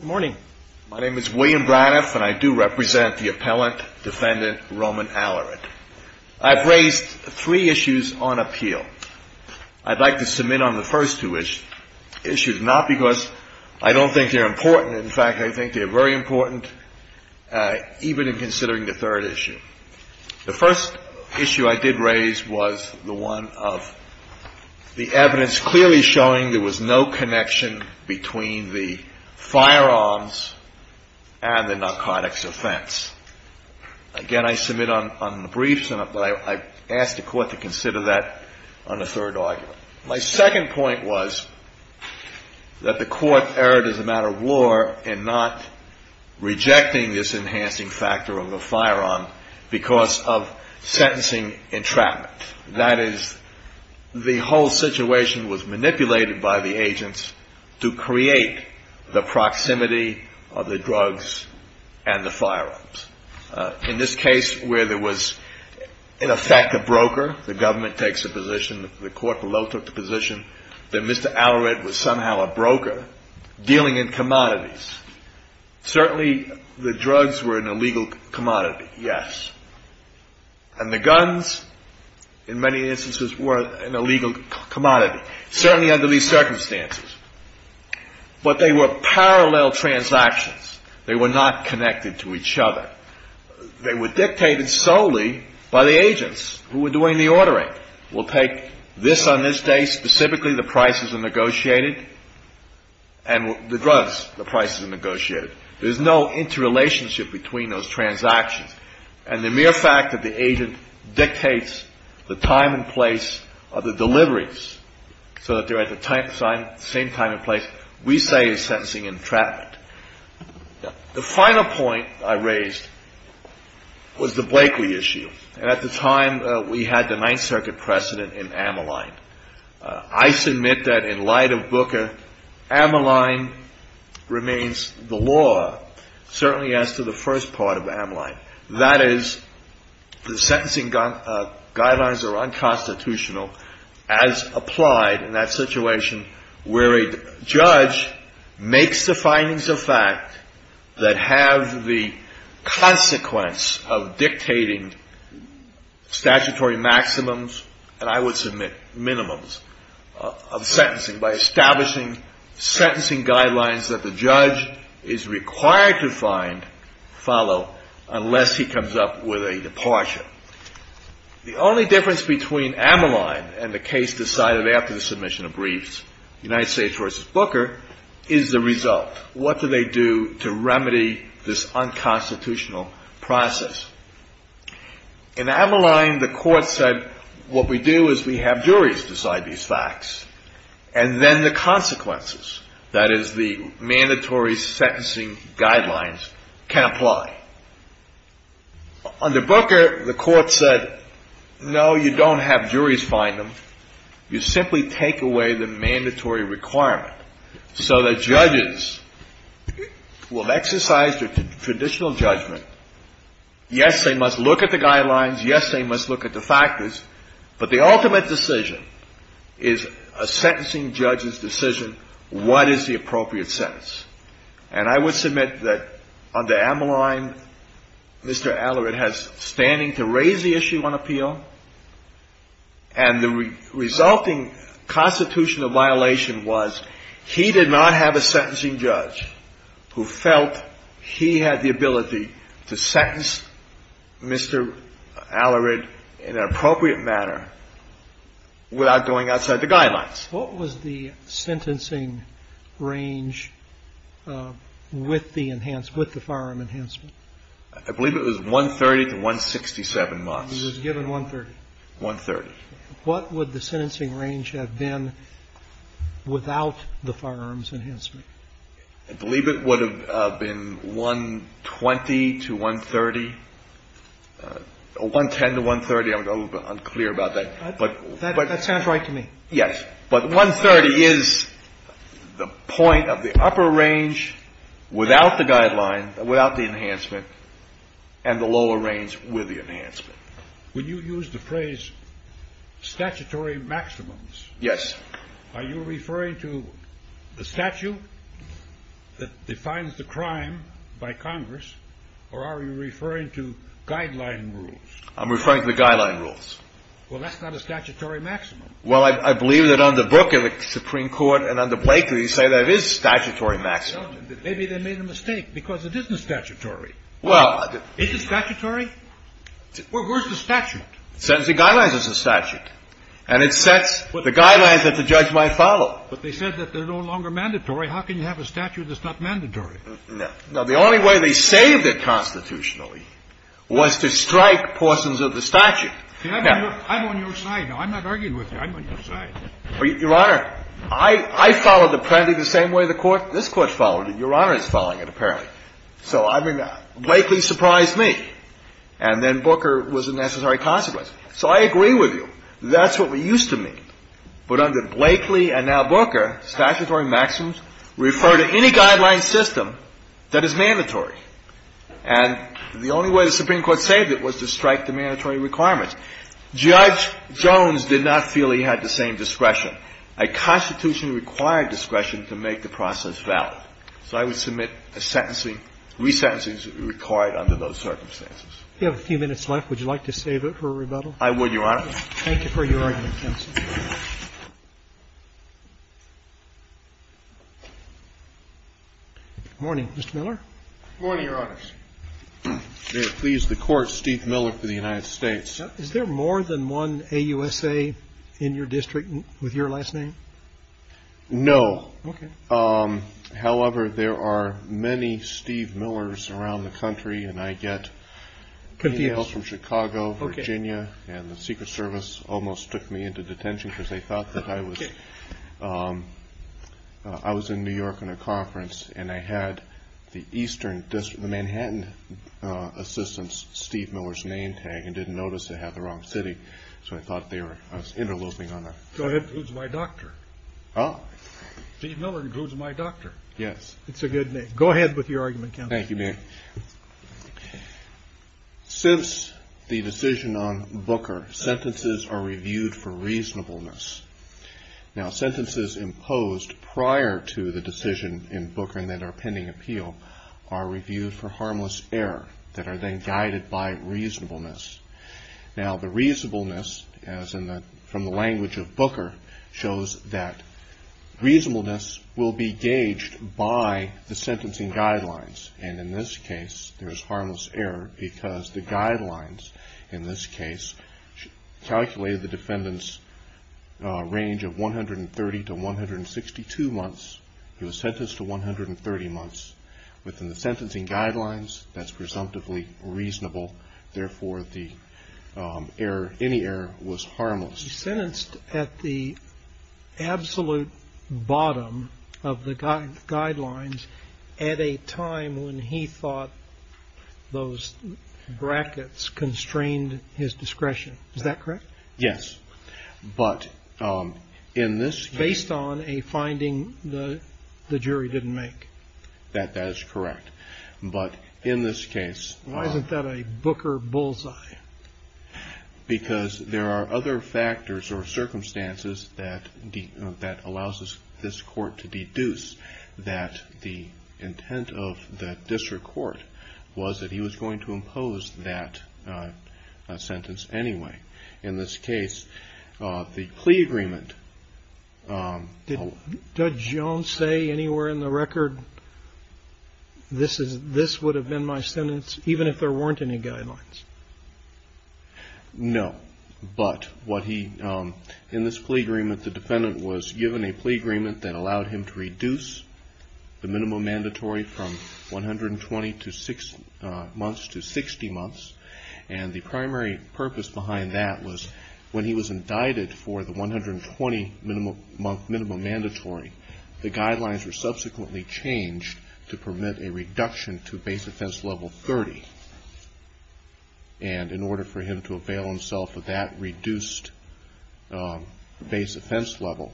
Good morning. My name is William Braniff and I do represent the Appellant Defendant Roman Alarid. I've raised three issues on appeal. I'd like to submit on the first two issues, not because I don't think they're important, in fact I think they're very important, even in considering the third issue. The first issue I did raise was the one of the evidence clearly showing there was no connection between the firearms and the narcotics offense. Again, I submit on the briefs but I ask the court to consider that on the third argument. My second point was that the court erred as a matter of law in not rejecting this enhancing factor of the firearm because of sentencing entrapment. That is, the whole situation was manipulated by the agents to create the proximity of the drugs and the firearms. In this case where there was, in effect, a broker, the government takes a position, the court below took the position, that Mr. Alarid was somehow a broker dealing in commodities. Certainly the drugs were an illegal commodity, yes. And the guns, in many instances, were an illegal commodity, certainly under these circumstances. But they were parallel transactions. They were not connected to each other. They were dictated solely by the agents who were doing the ordering. We'll take this on this day, specifically the prices are negotiated, and the drugs, the prices are negotiated. There's no interrelationship between those transactions. And the mere fact that the agent dictates the time and place of the deliveries so that they're at the same time and place, we say is sentencing entrapment. The final point I raised was the Blakeley issue. And at the time we had the Ninth Circuit precedent in Ammaline. I submit that in light of Booker, Ammaline remains the law, certainly as to the first part of Ammaline. That is, the sentencing guidelines are unconstitutional as applied in that situation where a judge makes the findings of fact that have the consequence of dictating statutory maximums, and I would submit minimums, of sentencing by establishing sentencing guidelines that the judge is required to follow unless he comes up with a departure. The only difference between Ammaline and the case decided after the submission of briefs, United States v. Booker, is the result. What do they do to remedy this unconstitutional process? In Ammaline, the court said, what we do is we have juries decide these facts, and then the consequences, that is, the mandatory sentencing guidelines, can apply. Under Booker, the court said, no, you don't have juries find them. You simply take away the mandatory requirement so that judges will exercise their traditional judgment. Yes, they must look at the guidelines. Yes, they must look at the factors. But the ultimate decision is a sentencing judge's decision, what is the appropriate sentence. And I would submit that under Ammaline, Mr. Allered has standing to raise the issue on appeal. And the resulting constitutional violation was he did not have a sentencing judge who felt he had the ability to sentence Mr. Allered in an appropriate manner without going outside the guidelines. What was the sentencing range with the enhanced, with the firearm enhancement? I believe it was 130 to 167 months. He was given 130. 130. What would the sentencing range have been without the firearms enhancement? I believe it would have been 120 to 130, 110 to 130. I'm a little bit unclear about that. That sounds right to me. Yes, but 130 is the point of the upper range without the guideline, without the enhancement, and the lower range with the enhancement. Would you use the phrase statutory maximums? Yes. Are you referring to the statute that defines the crime by Congress, or are you referring to guideline rules? I'm referring to the guideline rules. Well, that's not a statutory maximum. Well, I believe that under Booker, the Supreme Court, and under Blaker, you say there is statutory maximum. Maybe they made a mistake because it isn't statutory. Well, I didn't. Is it statutory? Where's the statute? Sentencing guidelines is a statute. And it sets the guidelines that the judge might follow. But they said that they're no longer mandatory. How can you have a statute that's not mandatory? No. The only way they saved it constitutionally was to strike portions of the statute. I'm on your side. No, I'm not arguing with you. I'm on your side. Your Honor, I followed the penalty the same way the Court, this Court followed it. Your Honor is following it, apparently. So, I mean, Blakely surprised me. And then Booker was a necessary consequence. So I agree with you. That's what we used to meet. But under Blakely and now Booker, statutory maximums refer to any guideline system that is mandatory. And the only way the Supreme Court saved it was to strike the mandatory requirements. Judge Jones did not feel he had the same discretion. A constitution required discretion to make the process valid. So I would submit a sentencing, resentencings required under those circumstances. We have a few minutes left. Would you like to save it for rebuttal? I would, Your Honor. Thank you for your argument, counsel. Good morning. Good morning, Mr. Miller. Good morning, Your Honors. May it please the Court, Steve Miller for the United States. Is there more than one AUSA in your district with your last name? No. Okay. However, there are many Steve Millers around the country. And I get emails from Chicago, Virginia. Okay. And the Secret Service almost took me into detention because they thought that I was in New York on a conference. And I had the eastern district, the Manhattan assistance, Steve Miller's name tag, and didn't notice I had the wrong city. So I thought they were interloping on that. Go ahead. It includes my doctor. Oh. Steve Miller includes my doctor. Yes. It's a good name. Go ahead with your argument, counsel. Thank you, ma'am. Since the decision on Booker, sentences are reviewed for reasonableness. Now, sentences imposed prior to the decision in Booker that are pending appeal are reviewed for harmless error that are then guided by reasonableness. Now, the reasonableness, as in the language of Booker, shows that reasonableness will be gauged by the sentencing guidelines. And in this case, there's harmless error because the guidelines in this case calculated the defendant's range of 130 to 162 months. He was sentenced to 130 months. Within the sentencing guidelines, that's presumptively reasonable. Therefore, the error, any error, was harmless. He was sentenced at the absolute bottom of the guidelines at a time when he thought those brackets constrained his discretion. Is that correct? Yes. But in this case. Based on a finding the jury didn't make. That is correct. But in this case. Why isn't that a Booker bullseye? Because there are other factors or circumstances that allows this court to deduce that the intent of the district court was that he was going to impose that sentence anyway. In this case, the plea agreement. Did Judge Jones say anywhere in the record. This is this would have been my sentence, even if there weren't any guidelines. No. But what he in this plea agreement, the defendant was given a plea agreement that allowed him to reduce the minimum mandatory from 120 to six months to 60 months. And the primary purpose behind that was when he was indicted for the 120 minimum month minimum mandatory. The guidelines were subsequently changed to permit a reduction to base offense level 30. And in order for him to avail himself of that reduced base offense level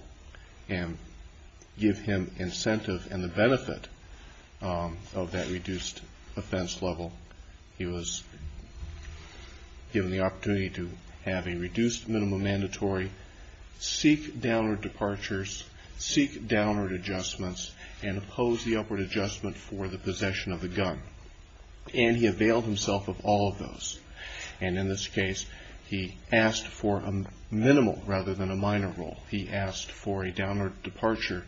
and give him incentive and the benefit of that reduced offense level. He was given the opportunity to have a reduced minimum mandatory. Seek downward departures. Seek downward adjustments and oppose the upward adjustment for the possession of the gun. And he availed himself of all of those. And in this case, he asked for a minimal rather than a minor role. He asked for a downward departure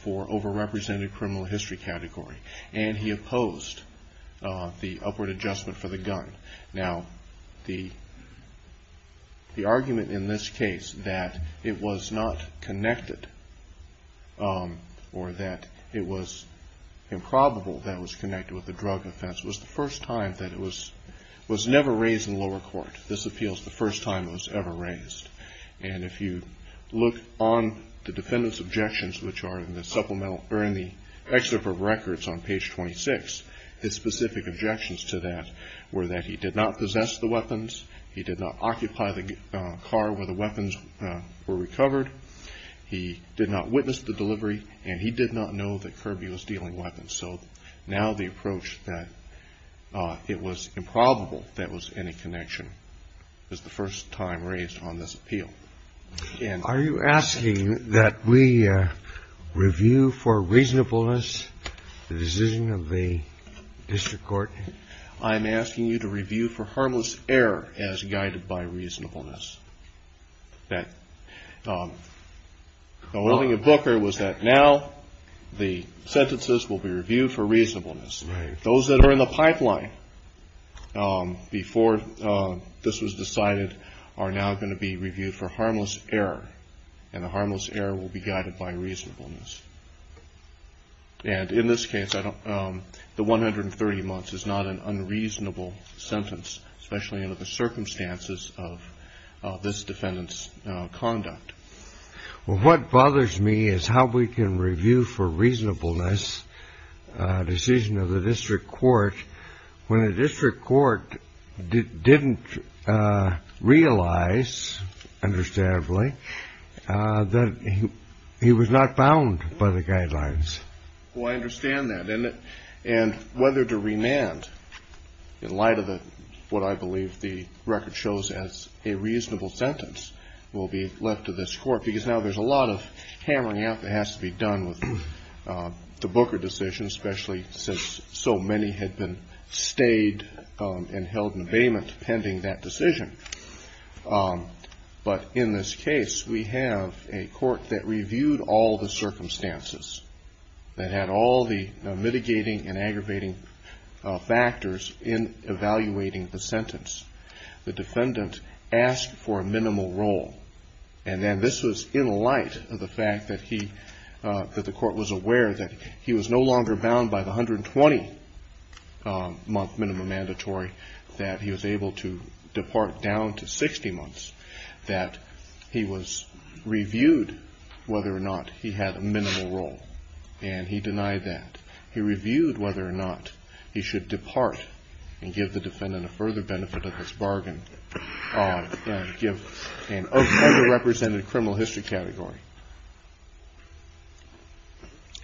for overrepresented criminal history category. And he opposed the upward adjustment for the gun. Now, the. The argument in this case that it was not connected. Or that it was improbable that was connected with the drug offense was the first time that it was was never raised in lower court. This appeals the first time it was ever raised. And if you look on the defendant's objections, which are in the supplemental or in the excerpt of records on page 26, his specific objections to that were that he did not possess the weapons. He did not occupy the car where the weapons were recovered. He did not witness the delivery. And he did not know that Kirby was dealing weapons. So now the approach that it was improbable that was in a connection is the first time raised on this appeal. And are you asking that we review for reasonableness the decision of the district court? I'm asking you to review for harmless error as guided by reasonableness. That. Booker was that now the sentences will be reviewed for reasonableness. Those that are in the pipeline before this was decided are now going to be reviewed for harmless error. And the harmless error will be guided by reasonableness. And in this case, the 130 months is not an unreasonable sentence, especially under the circumstances of this defendant's conduct. Well, what bothers me is how we can review for reasonableness decision of the district court when a district court didn't realize, understandably, that he was not bound by the guidelines. Well, I understand that. And whether to remand in light of what I believe the record shows as a reasonable sentence will be left to this court, because now there's a lot of hammering out that has to be done with the Booker decision, especially since so many had been stayed and held in abatement pending that decision. But in this case, we have a court that reviewed all the circumstances that had all the mitigating and aggravating factors in evaluating the sentence. The defendant asked for a minimal role. And then this was in light of the fact that he, that the court was aware that he was no longer bound by the 120-month minimum mandatory, that he was able to depart down to 60 months, that he was reviewed whether or not he had a minimal role. And he denied that. He reviewed whether or not he should depart and give the defendant a further benefit of his bargain, give an underrepresented criminal history category,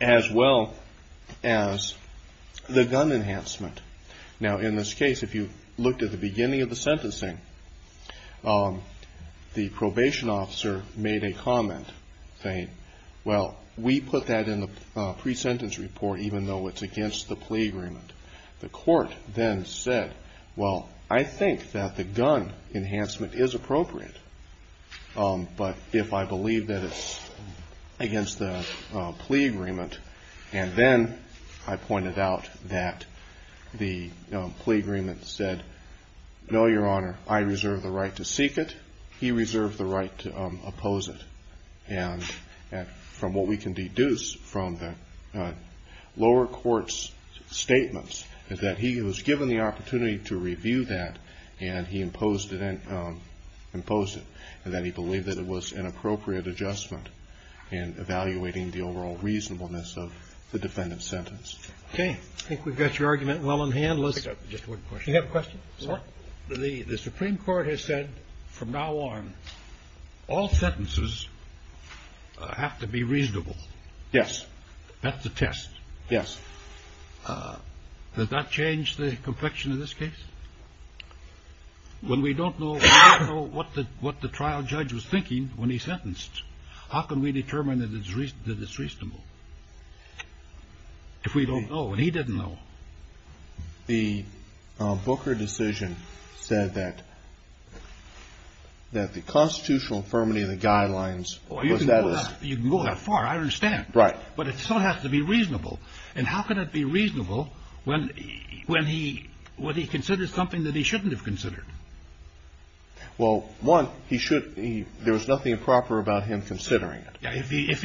as well as the gun enhancement. Now, in this case, if you looked at the beginning of the sentencing, the probation officer made a comment saying, well, we put that in the pre-sentence report even though it's against the plea agreement. The court then said, well, I think that the gun enhancement is appropriate, but if I believe that it's against the plea agreement, and then I pointed out that the plea agreement said, no, Your Honor, I reserve the right to seek it. He reserved the right to oppose it. And from what we can deduce from the lower court's statements is that he was given the opportunity to review that, and he imposed it, and then he believed that it was an appropriate adjustment in evaluating the overall reasonableness of the defendant's sentence. Okay. I think we've got your argument well in hand. Let's pick up just one question. You have a question? The Supreme Court has said from now on, all sentences have to be reasonable. Yes. That's a test. Yes. Does that change the complexion of this case? When we don't know what the trial judge was thinking when he sentenced, how can we determine that it's reasonable? If we don't know and he didn't know. The Booker decision said that the constitutional infirmity of the guidelines was that it's… Well, you can go that far. I understand. Right. But it still has to be reasonable. And how can it be reasonable when he considers something that he shouldn't have considered? Well, one, there was nothing improper about him considering it. If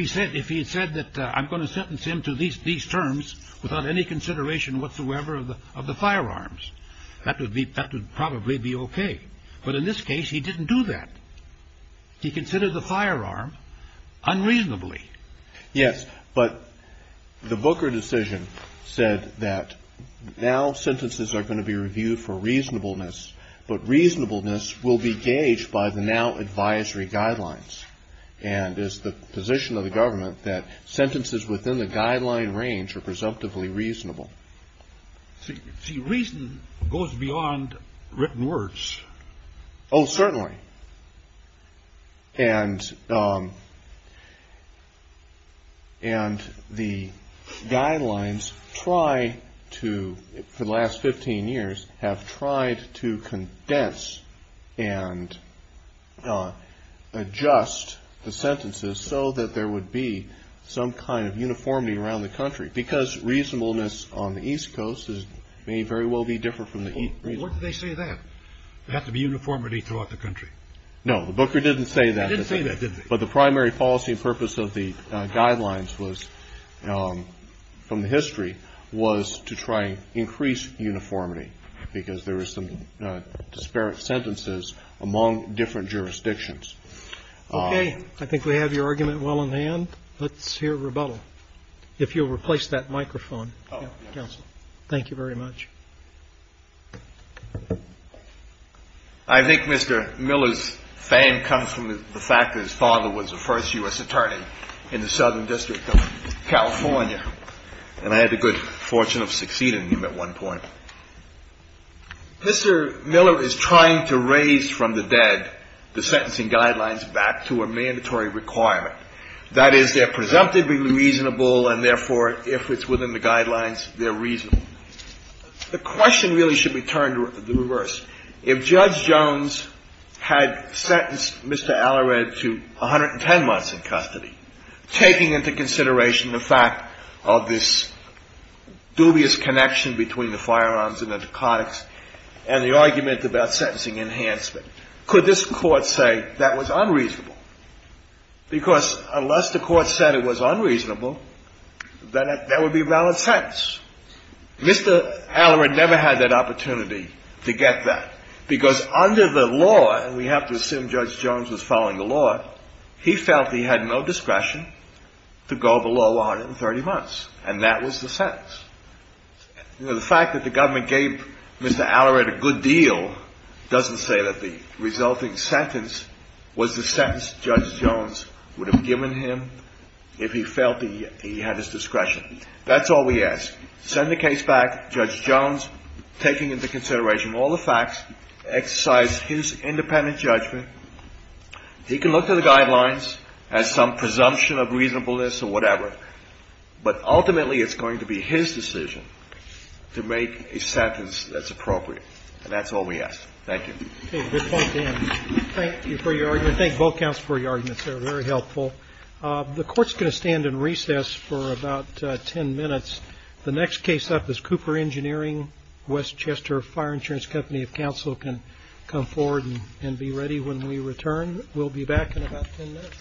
he said that I'm going to sentence him to these terms without any consideration whatsoever of the firearms, that would probably be okay. But in this case, he didn't do that. He considered the firearm unreasonably. Yes. But the Booker decision said that now sentences are going to be reviewed for reasonableness, but reasonableness will be gauged by the now advisory guidelines. And it's the position of the government that sentences within the guideline range are presumptively reasonable. See, reason goes beyond written words. Oh, certainly. And the guidelines try to, for the last 15 years, have tried to condense and adjust the sentences so that there would be some kind of uniformity around the country, because reasonableness on the East Coast may very well be different from the East Coast. What did they say then? They have to be uniformity throughout the country. No. The Booker didn't say that. They didn't say that, did they? But the primary policy and purpose of the guidelines was, from the history, was to try and increase uniformity, because there were some disparate sentences among different jurisdictions. Okay. I think we have your argument well in hand. Let's hear rebuttal. If you'll replace that microphone, counsel. Thank you very much. I think Mr. Miller's fame comes from the fact that his father was the first U.S. attorney in the Southern District of California, and I had the good fortune of succeeding him at one point. Mr. Miller is trying to raise from the dead the sentencing guidelines back to a mandatory requirement. That is, they're presumptively reasonable, and therefore, if it's within the guidelines, they're reasonable. The question really should be turned to the reverse. If Judge Jones had sentenced Mr. Allered to 110 months in custody, taking into consideration the fact of this dubious connection between the firearms and the narcotics and the argument about sentencing enhancement, could this Court say that was unreasonable? Because unless the Court said it was unreasonable, then there would be a valid sentence. Mr. Allered never had that opportunity to get that, because under the law, and we have to assume Judge Jones was following the law, he felt he had no discretion to go below 130 months, and that was the sentence. You know, the fact that the government gave Mr. Allered a good deal doesn't say that the resulting sentence was the sentence Judge Jones would have given him if he felt he had his discretion. That's all we ask. Send the case back, Judge Jones taking into consideration all the facts, exercise his independent judgment. He can look to the guidelines as some presumption of reasonableness or whatever, but ultimately, it's going to be his decision to make a sentence that's appropriate, and that's all we ask. Thank you. Okay. Good point, Dan. Thank you for your argument. Thank both counsel for your arguments. They were very helpful. The Court's going to stand in recess for about 10 minutes. The next case up is Cooper Engineering. Wes Chester, Fire Insurance Company of Counsel, can come forward and be ready when we return. We'll be back in about 10 minutes. All right.